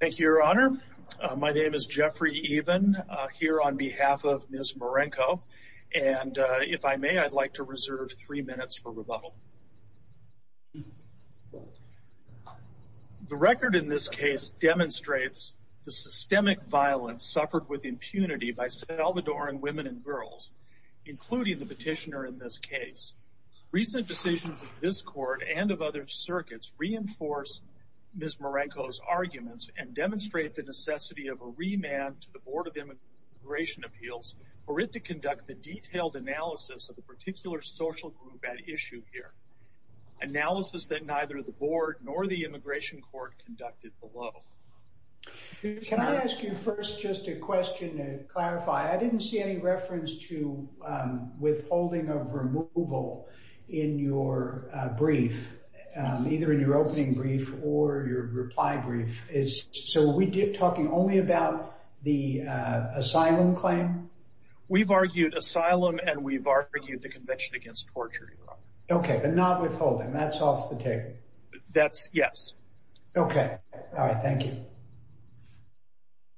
Thank you, Your Honor. My name is Jeffrey Even here on behalf of Ms. Marenco. And if I may, I'd like to reserve three minutes for rebuttal. The record in this case demonstrates the systemic violence suffered with impunity by Salvadoran women and girls, including the petitioner in this case. Recent decisions of this court and of other circuits reinforce Ms. Marenco's arguments and demonstrate the necessity of a remand to the Board of Immigration Appeals for it to conduct the detailed analysis of the particular social group at issue here. Analysis that neither the board nor the immigration court conducted below. Can I ask you first just a question to clarify? I didn't see any reference to withholding of removal in your brief, either in your opening brief or your reply brief. So we did talking only about the asylum claim? We've argued asylum and we've argued the Convention Against Torture, Your Honor. Okay, but not withholding. That's off the table. That's yes. Okay. All right. Thank you.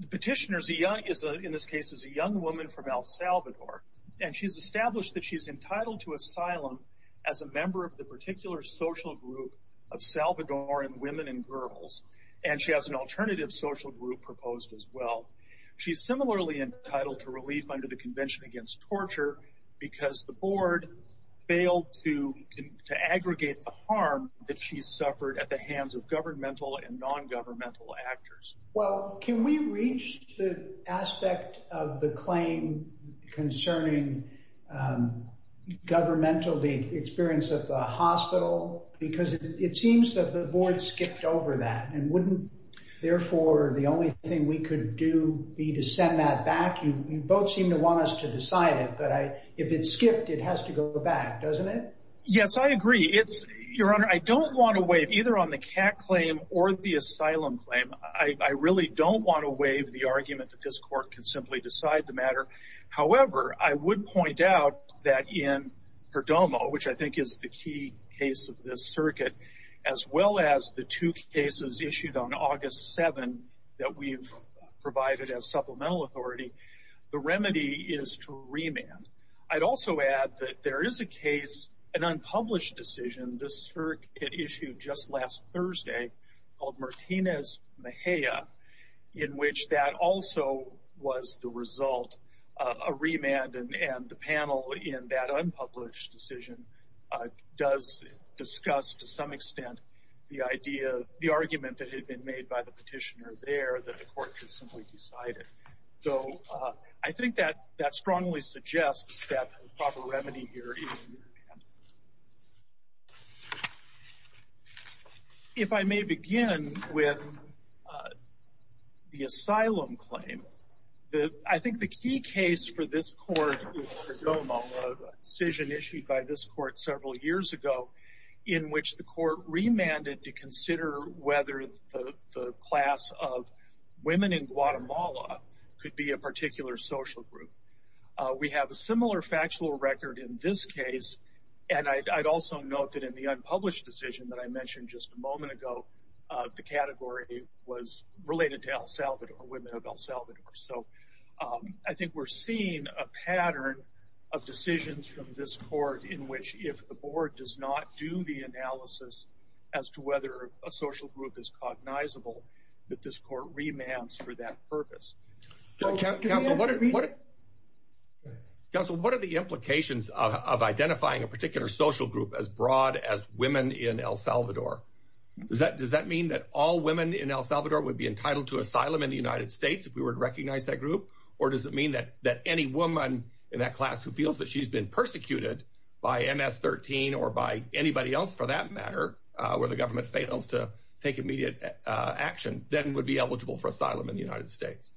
The petitioner is, in this case, a young woman from El Salvador. And she's established that she's entitled to asylum as a member of the particular social group of Salvadoran women and girls. And she has an alternative social group proposed as well. She's similarly entitled to relief under the Convention Against Torture because the board failed to aggregate the harm that she suffered at the hands of governmental and non-governmental actors. Well, can we reach the aspect of the claim concerning governmental experience at the hospital? Because it seems that the board skipped over that. And wouldn't, therefore, the only thing we could do be to send that back? You both seem to want us to decide it. But if it's skipped, it has to go back, doesn't it? Yes, I agree. Your Honor, I don't want to waive either on the CAC claim or the asylum claim. I really don't want to waive the argument that this court can simply decide the matter. However, I would point out that in Perdomo, which I think is the key case of this circuit, as well as the two cases issued on August 7 that we've provided as supplemental authority, the remedy is to remand. I'd also add that there is a case, an unpublished decision, this circuit issued just last Thursday called Martinez-Mejia, in which that also was the result of a remand. And the panel in that unpublished decision does discuss, to some extent, the argument that had been made by the petitioner that the court could simply decide it. So, I think that strongly suggests that the proper remedy here is to remand. If I may begin with the asylum claim, I think the key case for this court is Perdomo, a decision issued by this court several years ago, in which the court remanded to consider whether the class of women in Guatemala could be a particular social group. We have a similar factual record in this case, and I'd also note that in the unpublished decision that I mentioned just a moment ago, the category was related to El Salvador, women of El Salvador. So, I think we're seeing a pattern of decisions from this court in which if the board does not do the analysis as to whether a social group is cognizable, that this court remands for that purpose. Counsel, what are the implications of identifying a particular social group as broad as women in El Salvador? Does that mean that all women in El Salvador would be entitled to asylum in the United States if we were to recognize that group? Or does it mean that any woman in that for that matter, where the government fails to take immediate action, then would be eligible for asylum in the United States?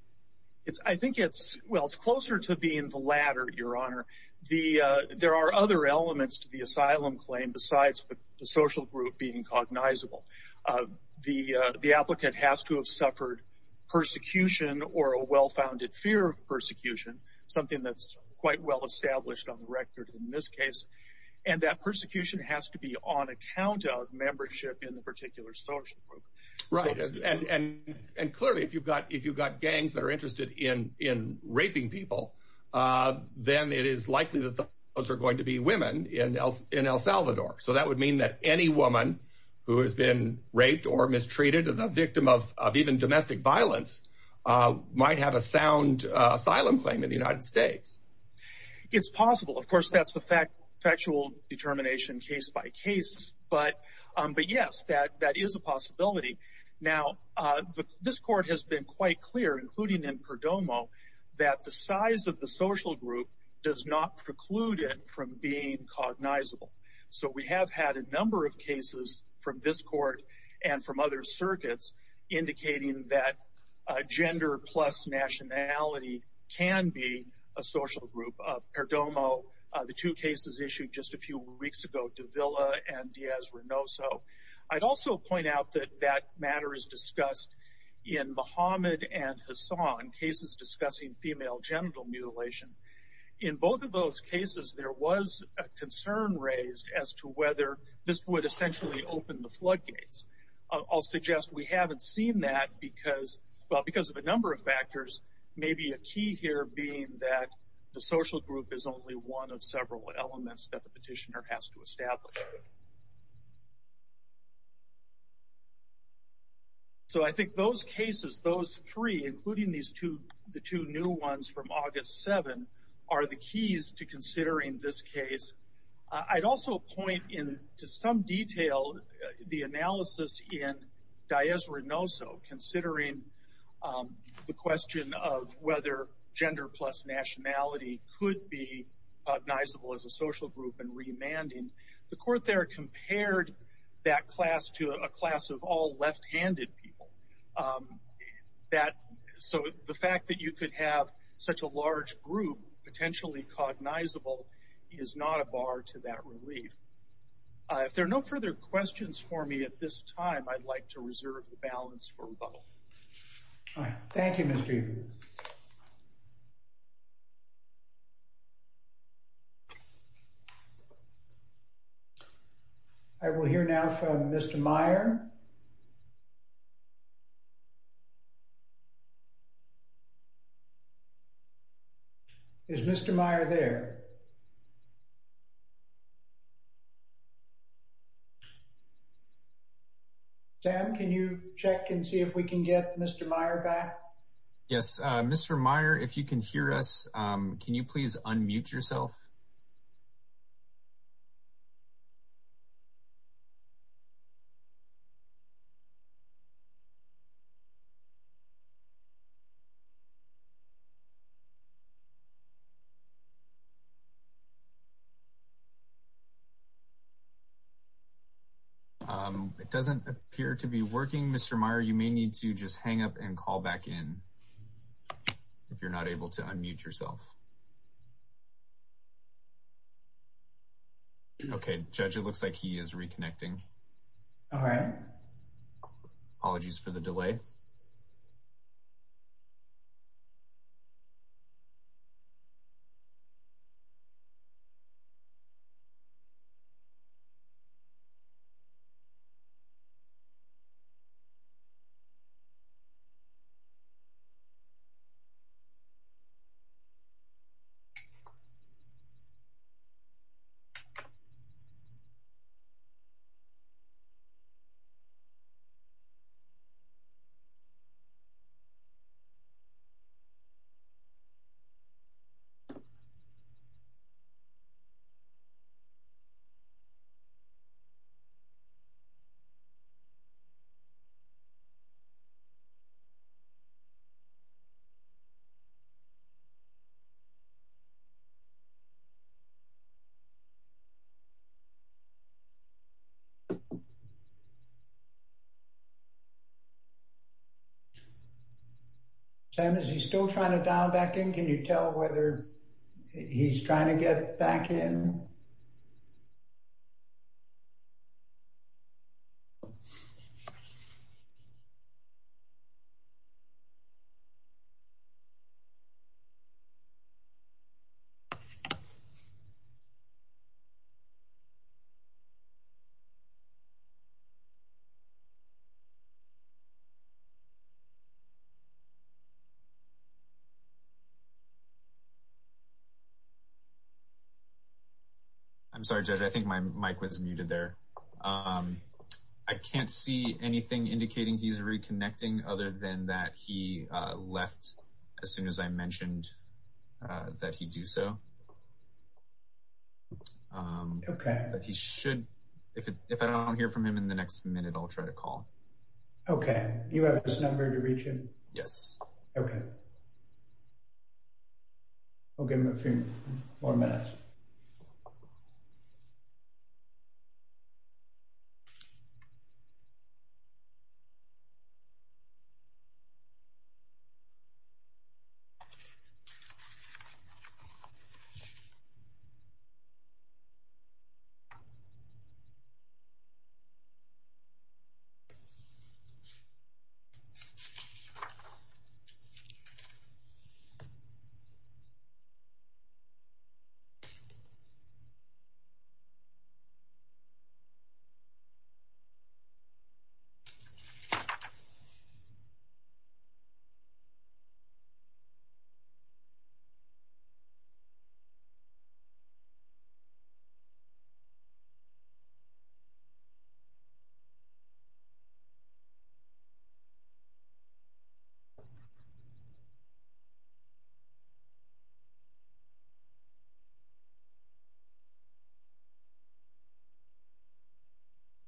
Well, it's closer to being the latter, Your Honor. There are other elements to the asylum claim besides the social group being cognizable. The applicant has to have suffered persecution or a well-founded fear of persecution, something that's quite well established on the record in this case. And that persecution has to be on account of membership in the particular social group. Right. And clearly, if you've got gangs that are interested in raping people, then it is likely that those are going to be women in El Salvador. So, that would mean that any woman who has been raped or mistreated, a victim of even domestic violence, might have a sound asylum claim in the United States. It's possible. Of course, that's the factual determination case by case. But yes, that is a possibility. Now, this court has been quite clear, including in Perdomo, that the size of the social group does not preclude it from being cognizable. So, we have had a number of cases from this court and from other circuits indicating that gender plus nationality can be a social group. Perdomo, the two cases issued just a few weeks ago, Davila and Diaz-Renoso. I'd also point out that that matter is discussed in Mohammed and Hassan, cases discussing female genital mutilation. In both of those cases, there was a concern raised as to whether this would essentially open the floodgates. I'll suggest we haven't seen that because of a number of factors, maybe a key here being that the social group is only one of several elements that the petitioner has to establish. So, I think those cases, those three, including the two new ones from August 7, are the keys to considering this case. I'd also point into some detail the analysis in Diaz-Renoso, considering the question of whether gender plus nationality could be cognizable as a social group and remanding. The court there compared that class to a class of left-handed people. So, the fact that you could have such a large group potentially cognizable is not a bar to that relief. If there are no further questions for me at this time, I'd like to reserve the balance for rebuttal. All right. Thank you, Mr. Evers. Thank you. I will hear now from Mr. Meyer. Is Mr. Meyer there? Sam, can you check and see if we can get Mr. Meyer back? Yes. Mr. Meyer, if you can hear us, can you please unmute yourself? It doesn't appear to be working. Mr. Meyer, you may need to just hang up and call back in if you're not able to unmute yourself. Okay. Judge, it looks like he is reconnecting. All right. Apologies for the delay. So, Sam, is he still trying to dial back in? Can you tell whether he's trying to get back in? I'm sorry, Judge, I think my mic was muted there. I can't see anything indicating he's reconnecting other than that he left as soon as I mentioned that he do so. Okay. But he should, if I don't hear from him in the next minute, I'll try to call. Okay. You have his number to reach him? Yes. Okay. I'll give him a few more minutes.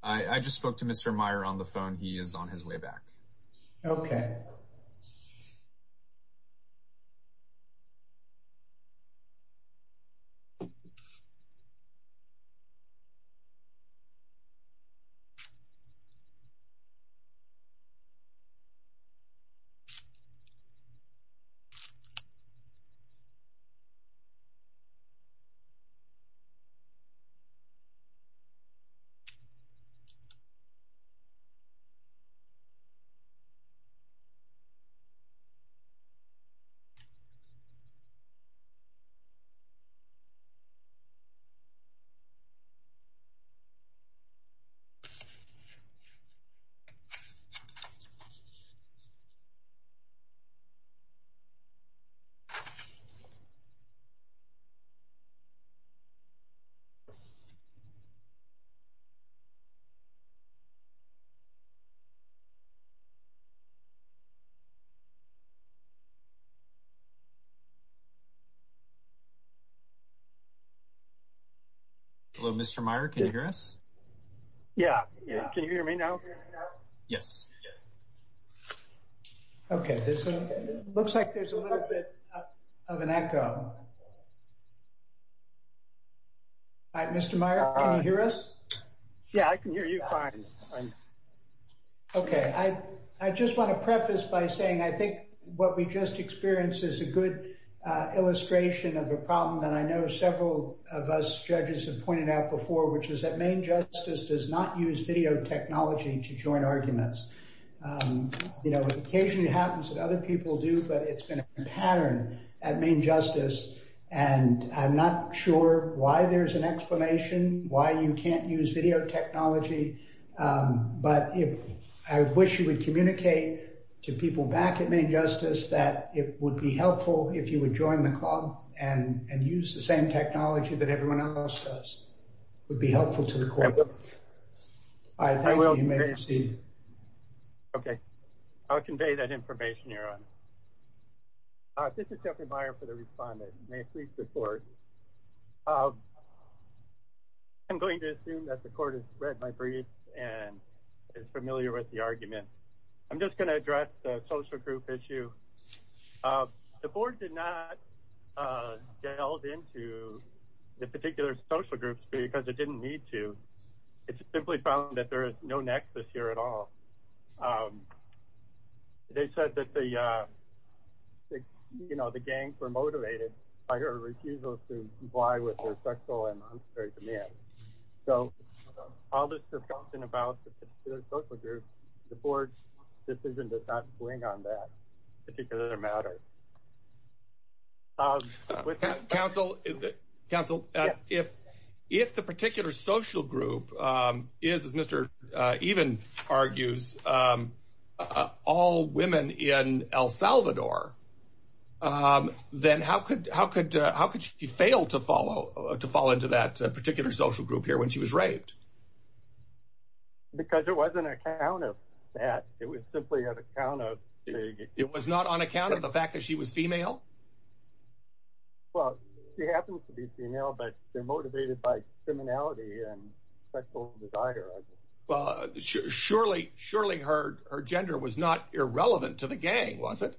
I just spoke to Mr. Meyer on the phone. He is on his way back. Okay. Okay. Hello, Mr. Meyer, can you hear us? Yeah. Can you hear me now? Yes. Yes. Okay. This looks like there's a little bit of an echo. Mr. Meyer, can you hear us? Yeah, I can hear you fine. Okay. I just want to preface by saying I think what we just experienced is a good illustration of a problem that I know several of us judges have pointed out before, which is that Maine Justice does not use video technology to join arguments. You know, it occasionally happens that other people do, but it's been a pattern at Maine Justice. And I'm not sure why there's an explanation why you can't use video technology. But I wish you would communicate to people back at Maine Justice that it would be helpful if you would join the club and use the same technology that everyone else does. It would be helpful to the court. I thank you. You may proceed. Okay. I'll convey that information, Your Honor. This is Jeffrey Meyer for the respondent. May it please the court. I'm going to assume that the court has read my briefs and is familiar with the argument. I'm just going to address the social group issue. The board did not delve into the particular social groups because it didn't need to. It's simply found that there is no nexus here at all. They said that the, you know, the gangs were motivated by her refusal to comply with their sexual and monstrous demands. So all this discussion about the particular social group, the board's decision does not counsel counsel. If if the particular social group is, as Mr. Even argues, all women in El Salvador, then how could how could how could she fail to follow to fall into that particular social group here when she was raped? Because it wasn't an account of that. It was simply an account of it was not on account of the fact that she was female. Well, she happens to be female, but they're motivated by criminality and sexual desire. Well, surely, surely her her gender was not irrelevant to the gang, was it?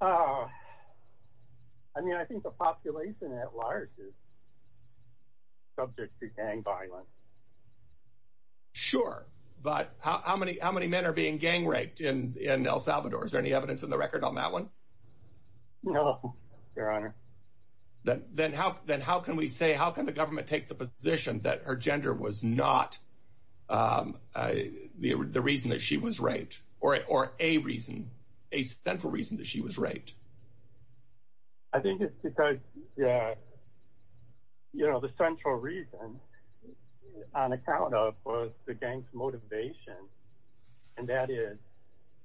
I mean, I think the population at large is subject to gang violence. Sure. But how many how many men are being gang raped in in El Salvador? Is there any evidence in the record on that one? No, Your Honor. Then then how then how can we say how can the government take the position that her gender was not the reason that she was raped or or a reason a central reason that she was raped? I think it's because, yeah, you know, the central reason on account of the gang's motivation and that is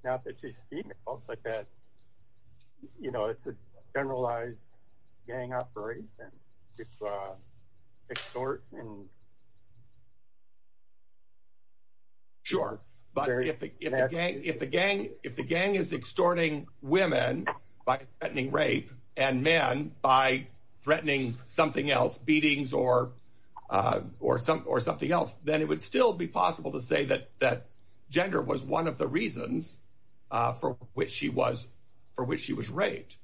not that she's female, but that, you know, it's a generalized gang operation. It's extorting. Sure. But if the gang if the gang if the gang is extorting women by threatening rape and men by threatening something else, beatings or or or something else, then it would still be possible to say that that gender was one of the reasons for which she was for which she was raped.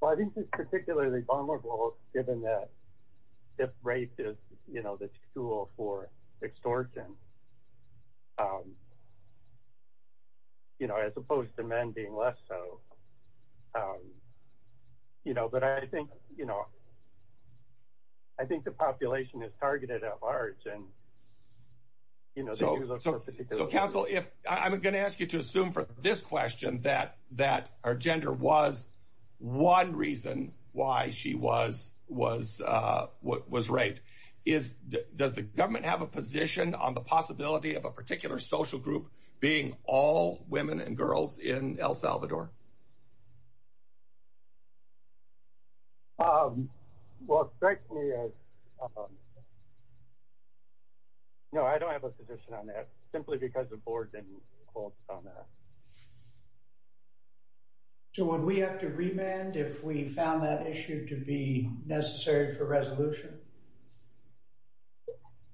Well, I think it's particularly vulnerable given that if race is, you know, the tool for extortion. You know, as opposed to men being less so, you know, but I think, you know, I think the population is targeted at large and, you know, so so so counsel, if I'm going to ask you to assume for this question that that her gender was one reason why she was was what was is does the government have a position on the possibility of a particular social group being all women and girls in El Salvador? Well, thank you. No, I don't have a position on that simply because the board didn't call on that. So when we have to remand if we found that issue to be necessary for resolution?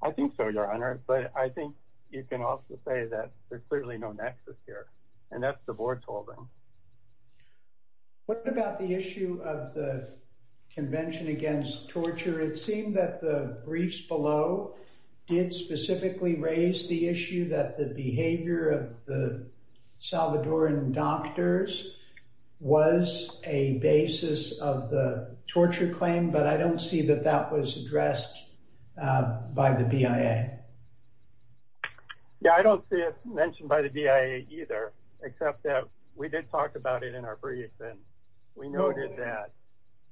I think so, Your Honor, but I think you can also say that there's clearly no nexus here and that's the board's holding. What about the issue of the Convention Against Torture? It seemed that the briefs below did specifically raise the issue that the behavior of the Salvadoran doctors was a basis of the arrest by the BIA. Yeah, I don't see it mentioned by the BIA either, except that we did talk about it in our brief and we noted that.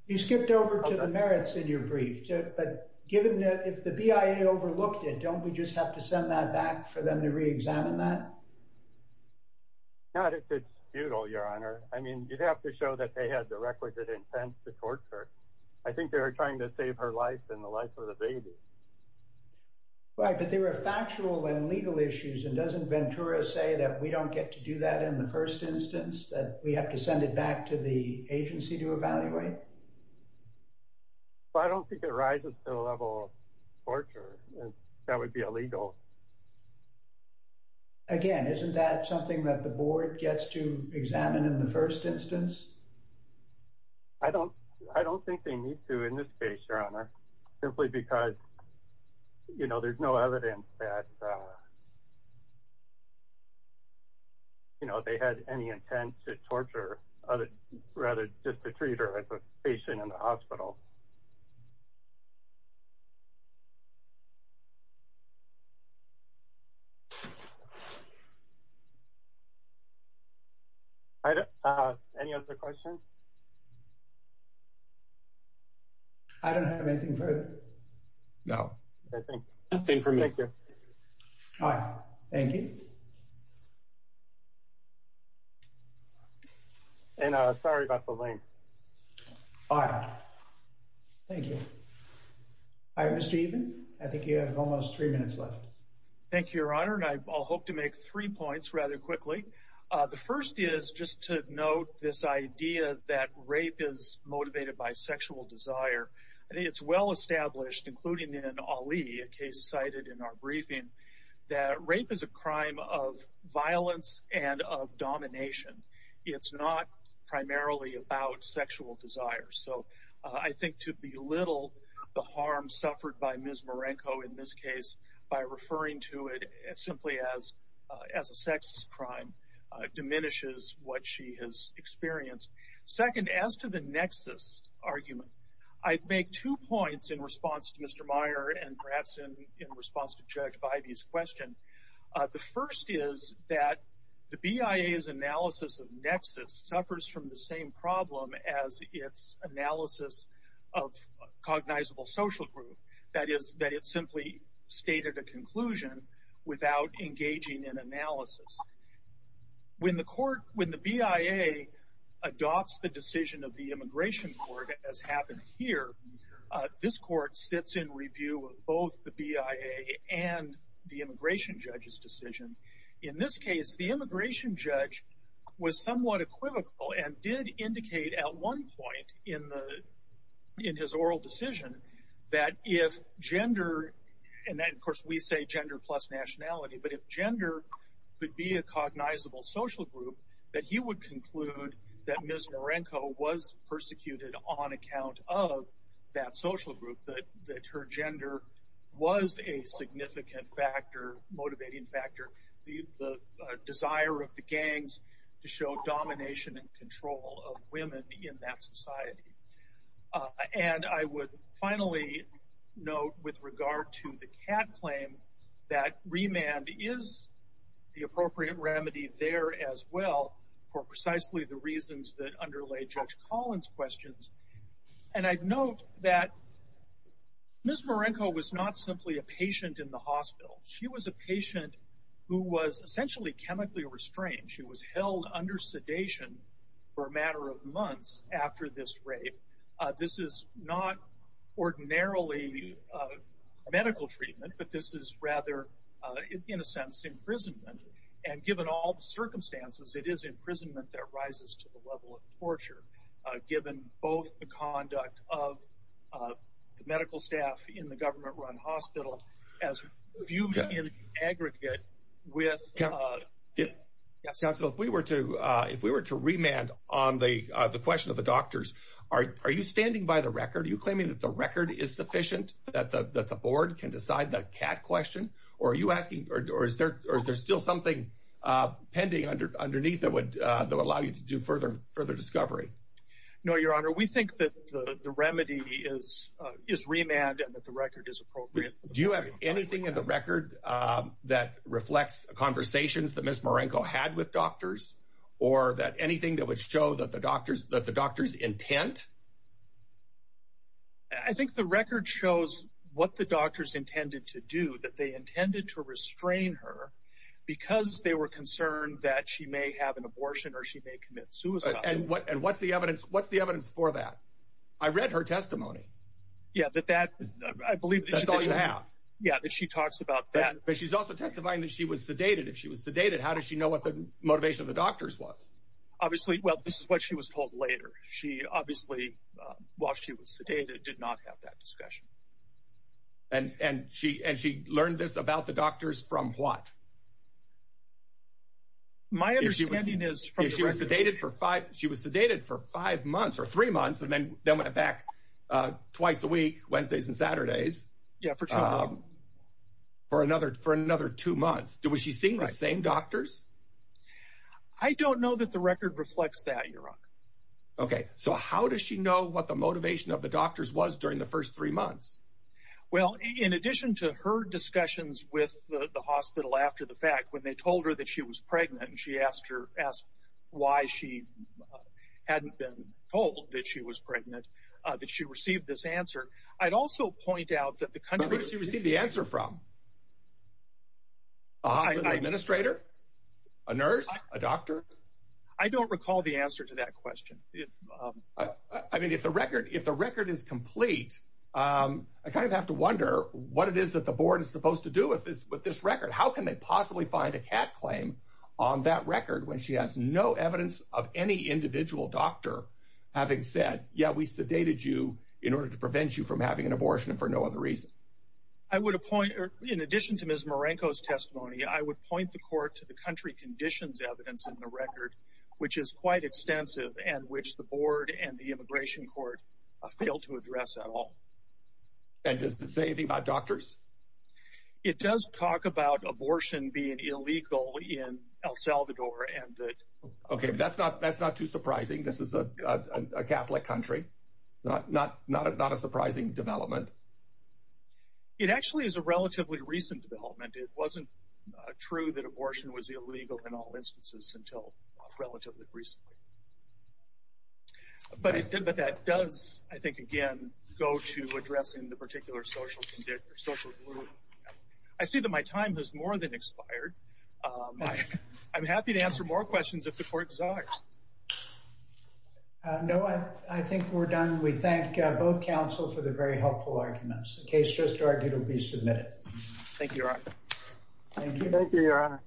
You skipped over to the merits in your brief, but given that if the BIA overlooked it, don't we just have to send that back for them to re-examine that? Not if it's futile, Your Honor. I mean, you'd have to show that they had the requisite intent to torture. I think they were trying to save her life and the life of the baby. Right, but they were factual and legal issues, and doesn't Ventura say that we don't get to do that in the first instance, that we have to send it back to the agency to evaluate? I don't think it rises to the level of torture. That would be illegal. Again, isn't that something that the board gets to examine in the first instance? I don't think they need to in this case, Your Honor, simply because there's no evidence that they had any intent to torture, rather just to treat her as a patient in the hospital. I don't have anything further. No, I think that's it for me. Thank you. All right. Thank you. And sorry about the length. All right. Thank you. Hi, Mr. Evans. I think you have almost three minutes left. Thank you, Your Honor, and I hope to make three points rather quickly. The first is just to note this idea that rape is motivated by sexual desire. I think it's well established, including in Ali, a case cited in our briefing, that rape is a crime of violence and of domination. It's not primarily about sexual desire. So I think to belittle the harm suffered by Ms. Marenko in this case by referring to it simply as a sex crime diminishes what she has experienced. Second, as to the nexus argument, I'd make two points in response to Mr. Meyer and in response to Judge Bybee's question. The first is that the BIA's analysis of nexus suffers from the same problem as its analysis of a cognizable social group, that is, that it simply stated a conclusion without engaging in analysis. When the BIA adopts the decision of the Immigration Court, as happened here, this court sits in review of both the BIA and the immigration judge's decision. In this case, the immigration judge was somewhat equivocal and did indicate at one point in his oral decision that if gender, and of course we say gender plus nationality, but if gender could be a cognizable social group, that he would conclude that Ms. Marenko was persecuted on that social group, that her gender was a significant factor, motivating factor, the desire of the gangs to show domination and control of women in that society. And I would finally note with regard to the CAD claim that remand is the appropriate remedy there as well for precisely the reasons that underlay Judge Collins' questions. And I'd note that Ms. Marenko was not simply a patient in the hospital. She was a patient who was essentially chemically restrained. She was held under sedation for a matter of months after this rape. This is not ordinarily a medical treatment, but this is rather, in a sense, imprisonment. And given all circumstances, it is imprisonment that rises to the level of torture, given both the conduct of the medical staff in the government-run hospital as viewed in aggregate with... So if we were to remand on the question of the doctors, are you standing by the record? Are you claiming that the record is sufficient, that the board can decide the CAD question? Or are you asking... Or is there still something pending underneath that would allow you to do further discovery? No, Your Honor. We think that the remedy is remand and that the record is appropriate. Do you have anything in the record that reflects conversations that Ms. Marenko had with doctors or anything that would show that the doctors' intent? I think the record shows what the doctors intended to do, that they intended to restrain her because they were concerned that she may have an abortion or she may commit suicide. And what's the evidence for that? I read her testimony. Yeah, that she talks about that. But she's also testifying that she was sedated. If she was sedated, how does she know what the motivation of the doctors was? Obviously, well, this is what she was told later. She obviously, while she was sedated, did not have that discussion. And she learned this about the doctors from what? My understanding is... She was sedated for five months or three months and then went back twice a week, Wednesdays and Saturdays, for another two months. Was she seeing the same doctors? I don't know that the record reflects that, Your Honor. Okay, so how does she know what the doctors' intent was for the first three months? Well, in addition to her discussions with the hospital after the fact, when they told her that she was pregnant and she asked her why she hadn't been told that she was pregnant, that she received this answer, I'd also point out that the country... But where did she receive the answer from? A hospital administrator? A nurse? A doctor? I don't recall the answer to that I kind of have to wonder what it is that the board is supposed to do with this record. How can they possibly find a cat claim on that record when she has no evidence of any individual doctor having said, yeah, we sedated you in order to prevent you from having an abortion for no other reason? I would appoint, in addition to Ms. Marenko's testimony, I would point the court to the country conditions evidence in the record, which is quite extensive and which the board and the and does it say anything about doctors? It does talk about abortion being illegal in El Salvador and that... Okay, that's not too surprising. This is a Catholic country. Not a surprising development. It actually is a relatively recent development. It wasn't true that abortion was addressed in the particular social condition or social group. I see that my time has more than expired. I'm happy to answer more questions if the court desires. No, I think we're done. We thank both counsel for the very helpful arguments. The case just argued will be submitted. Thank you, Your Honor. Thank you. Thank you, Your Honor.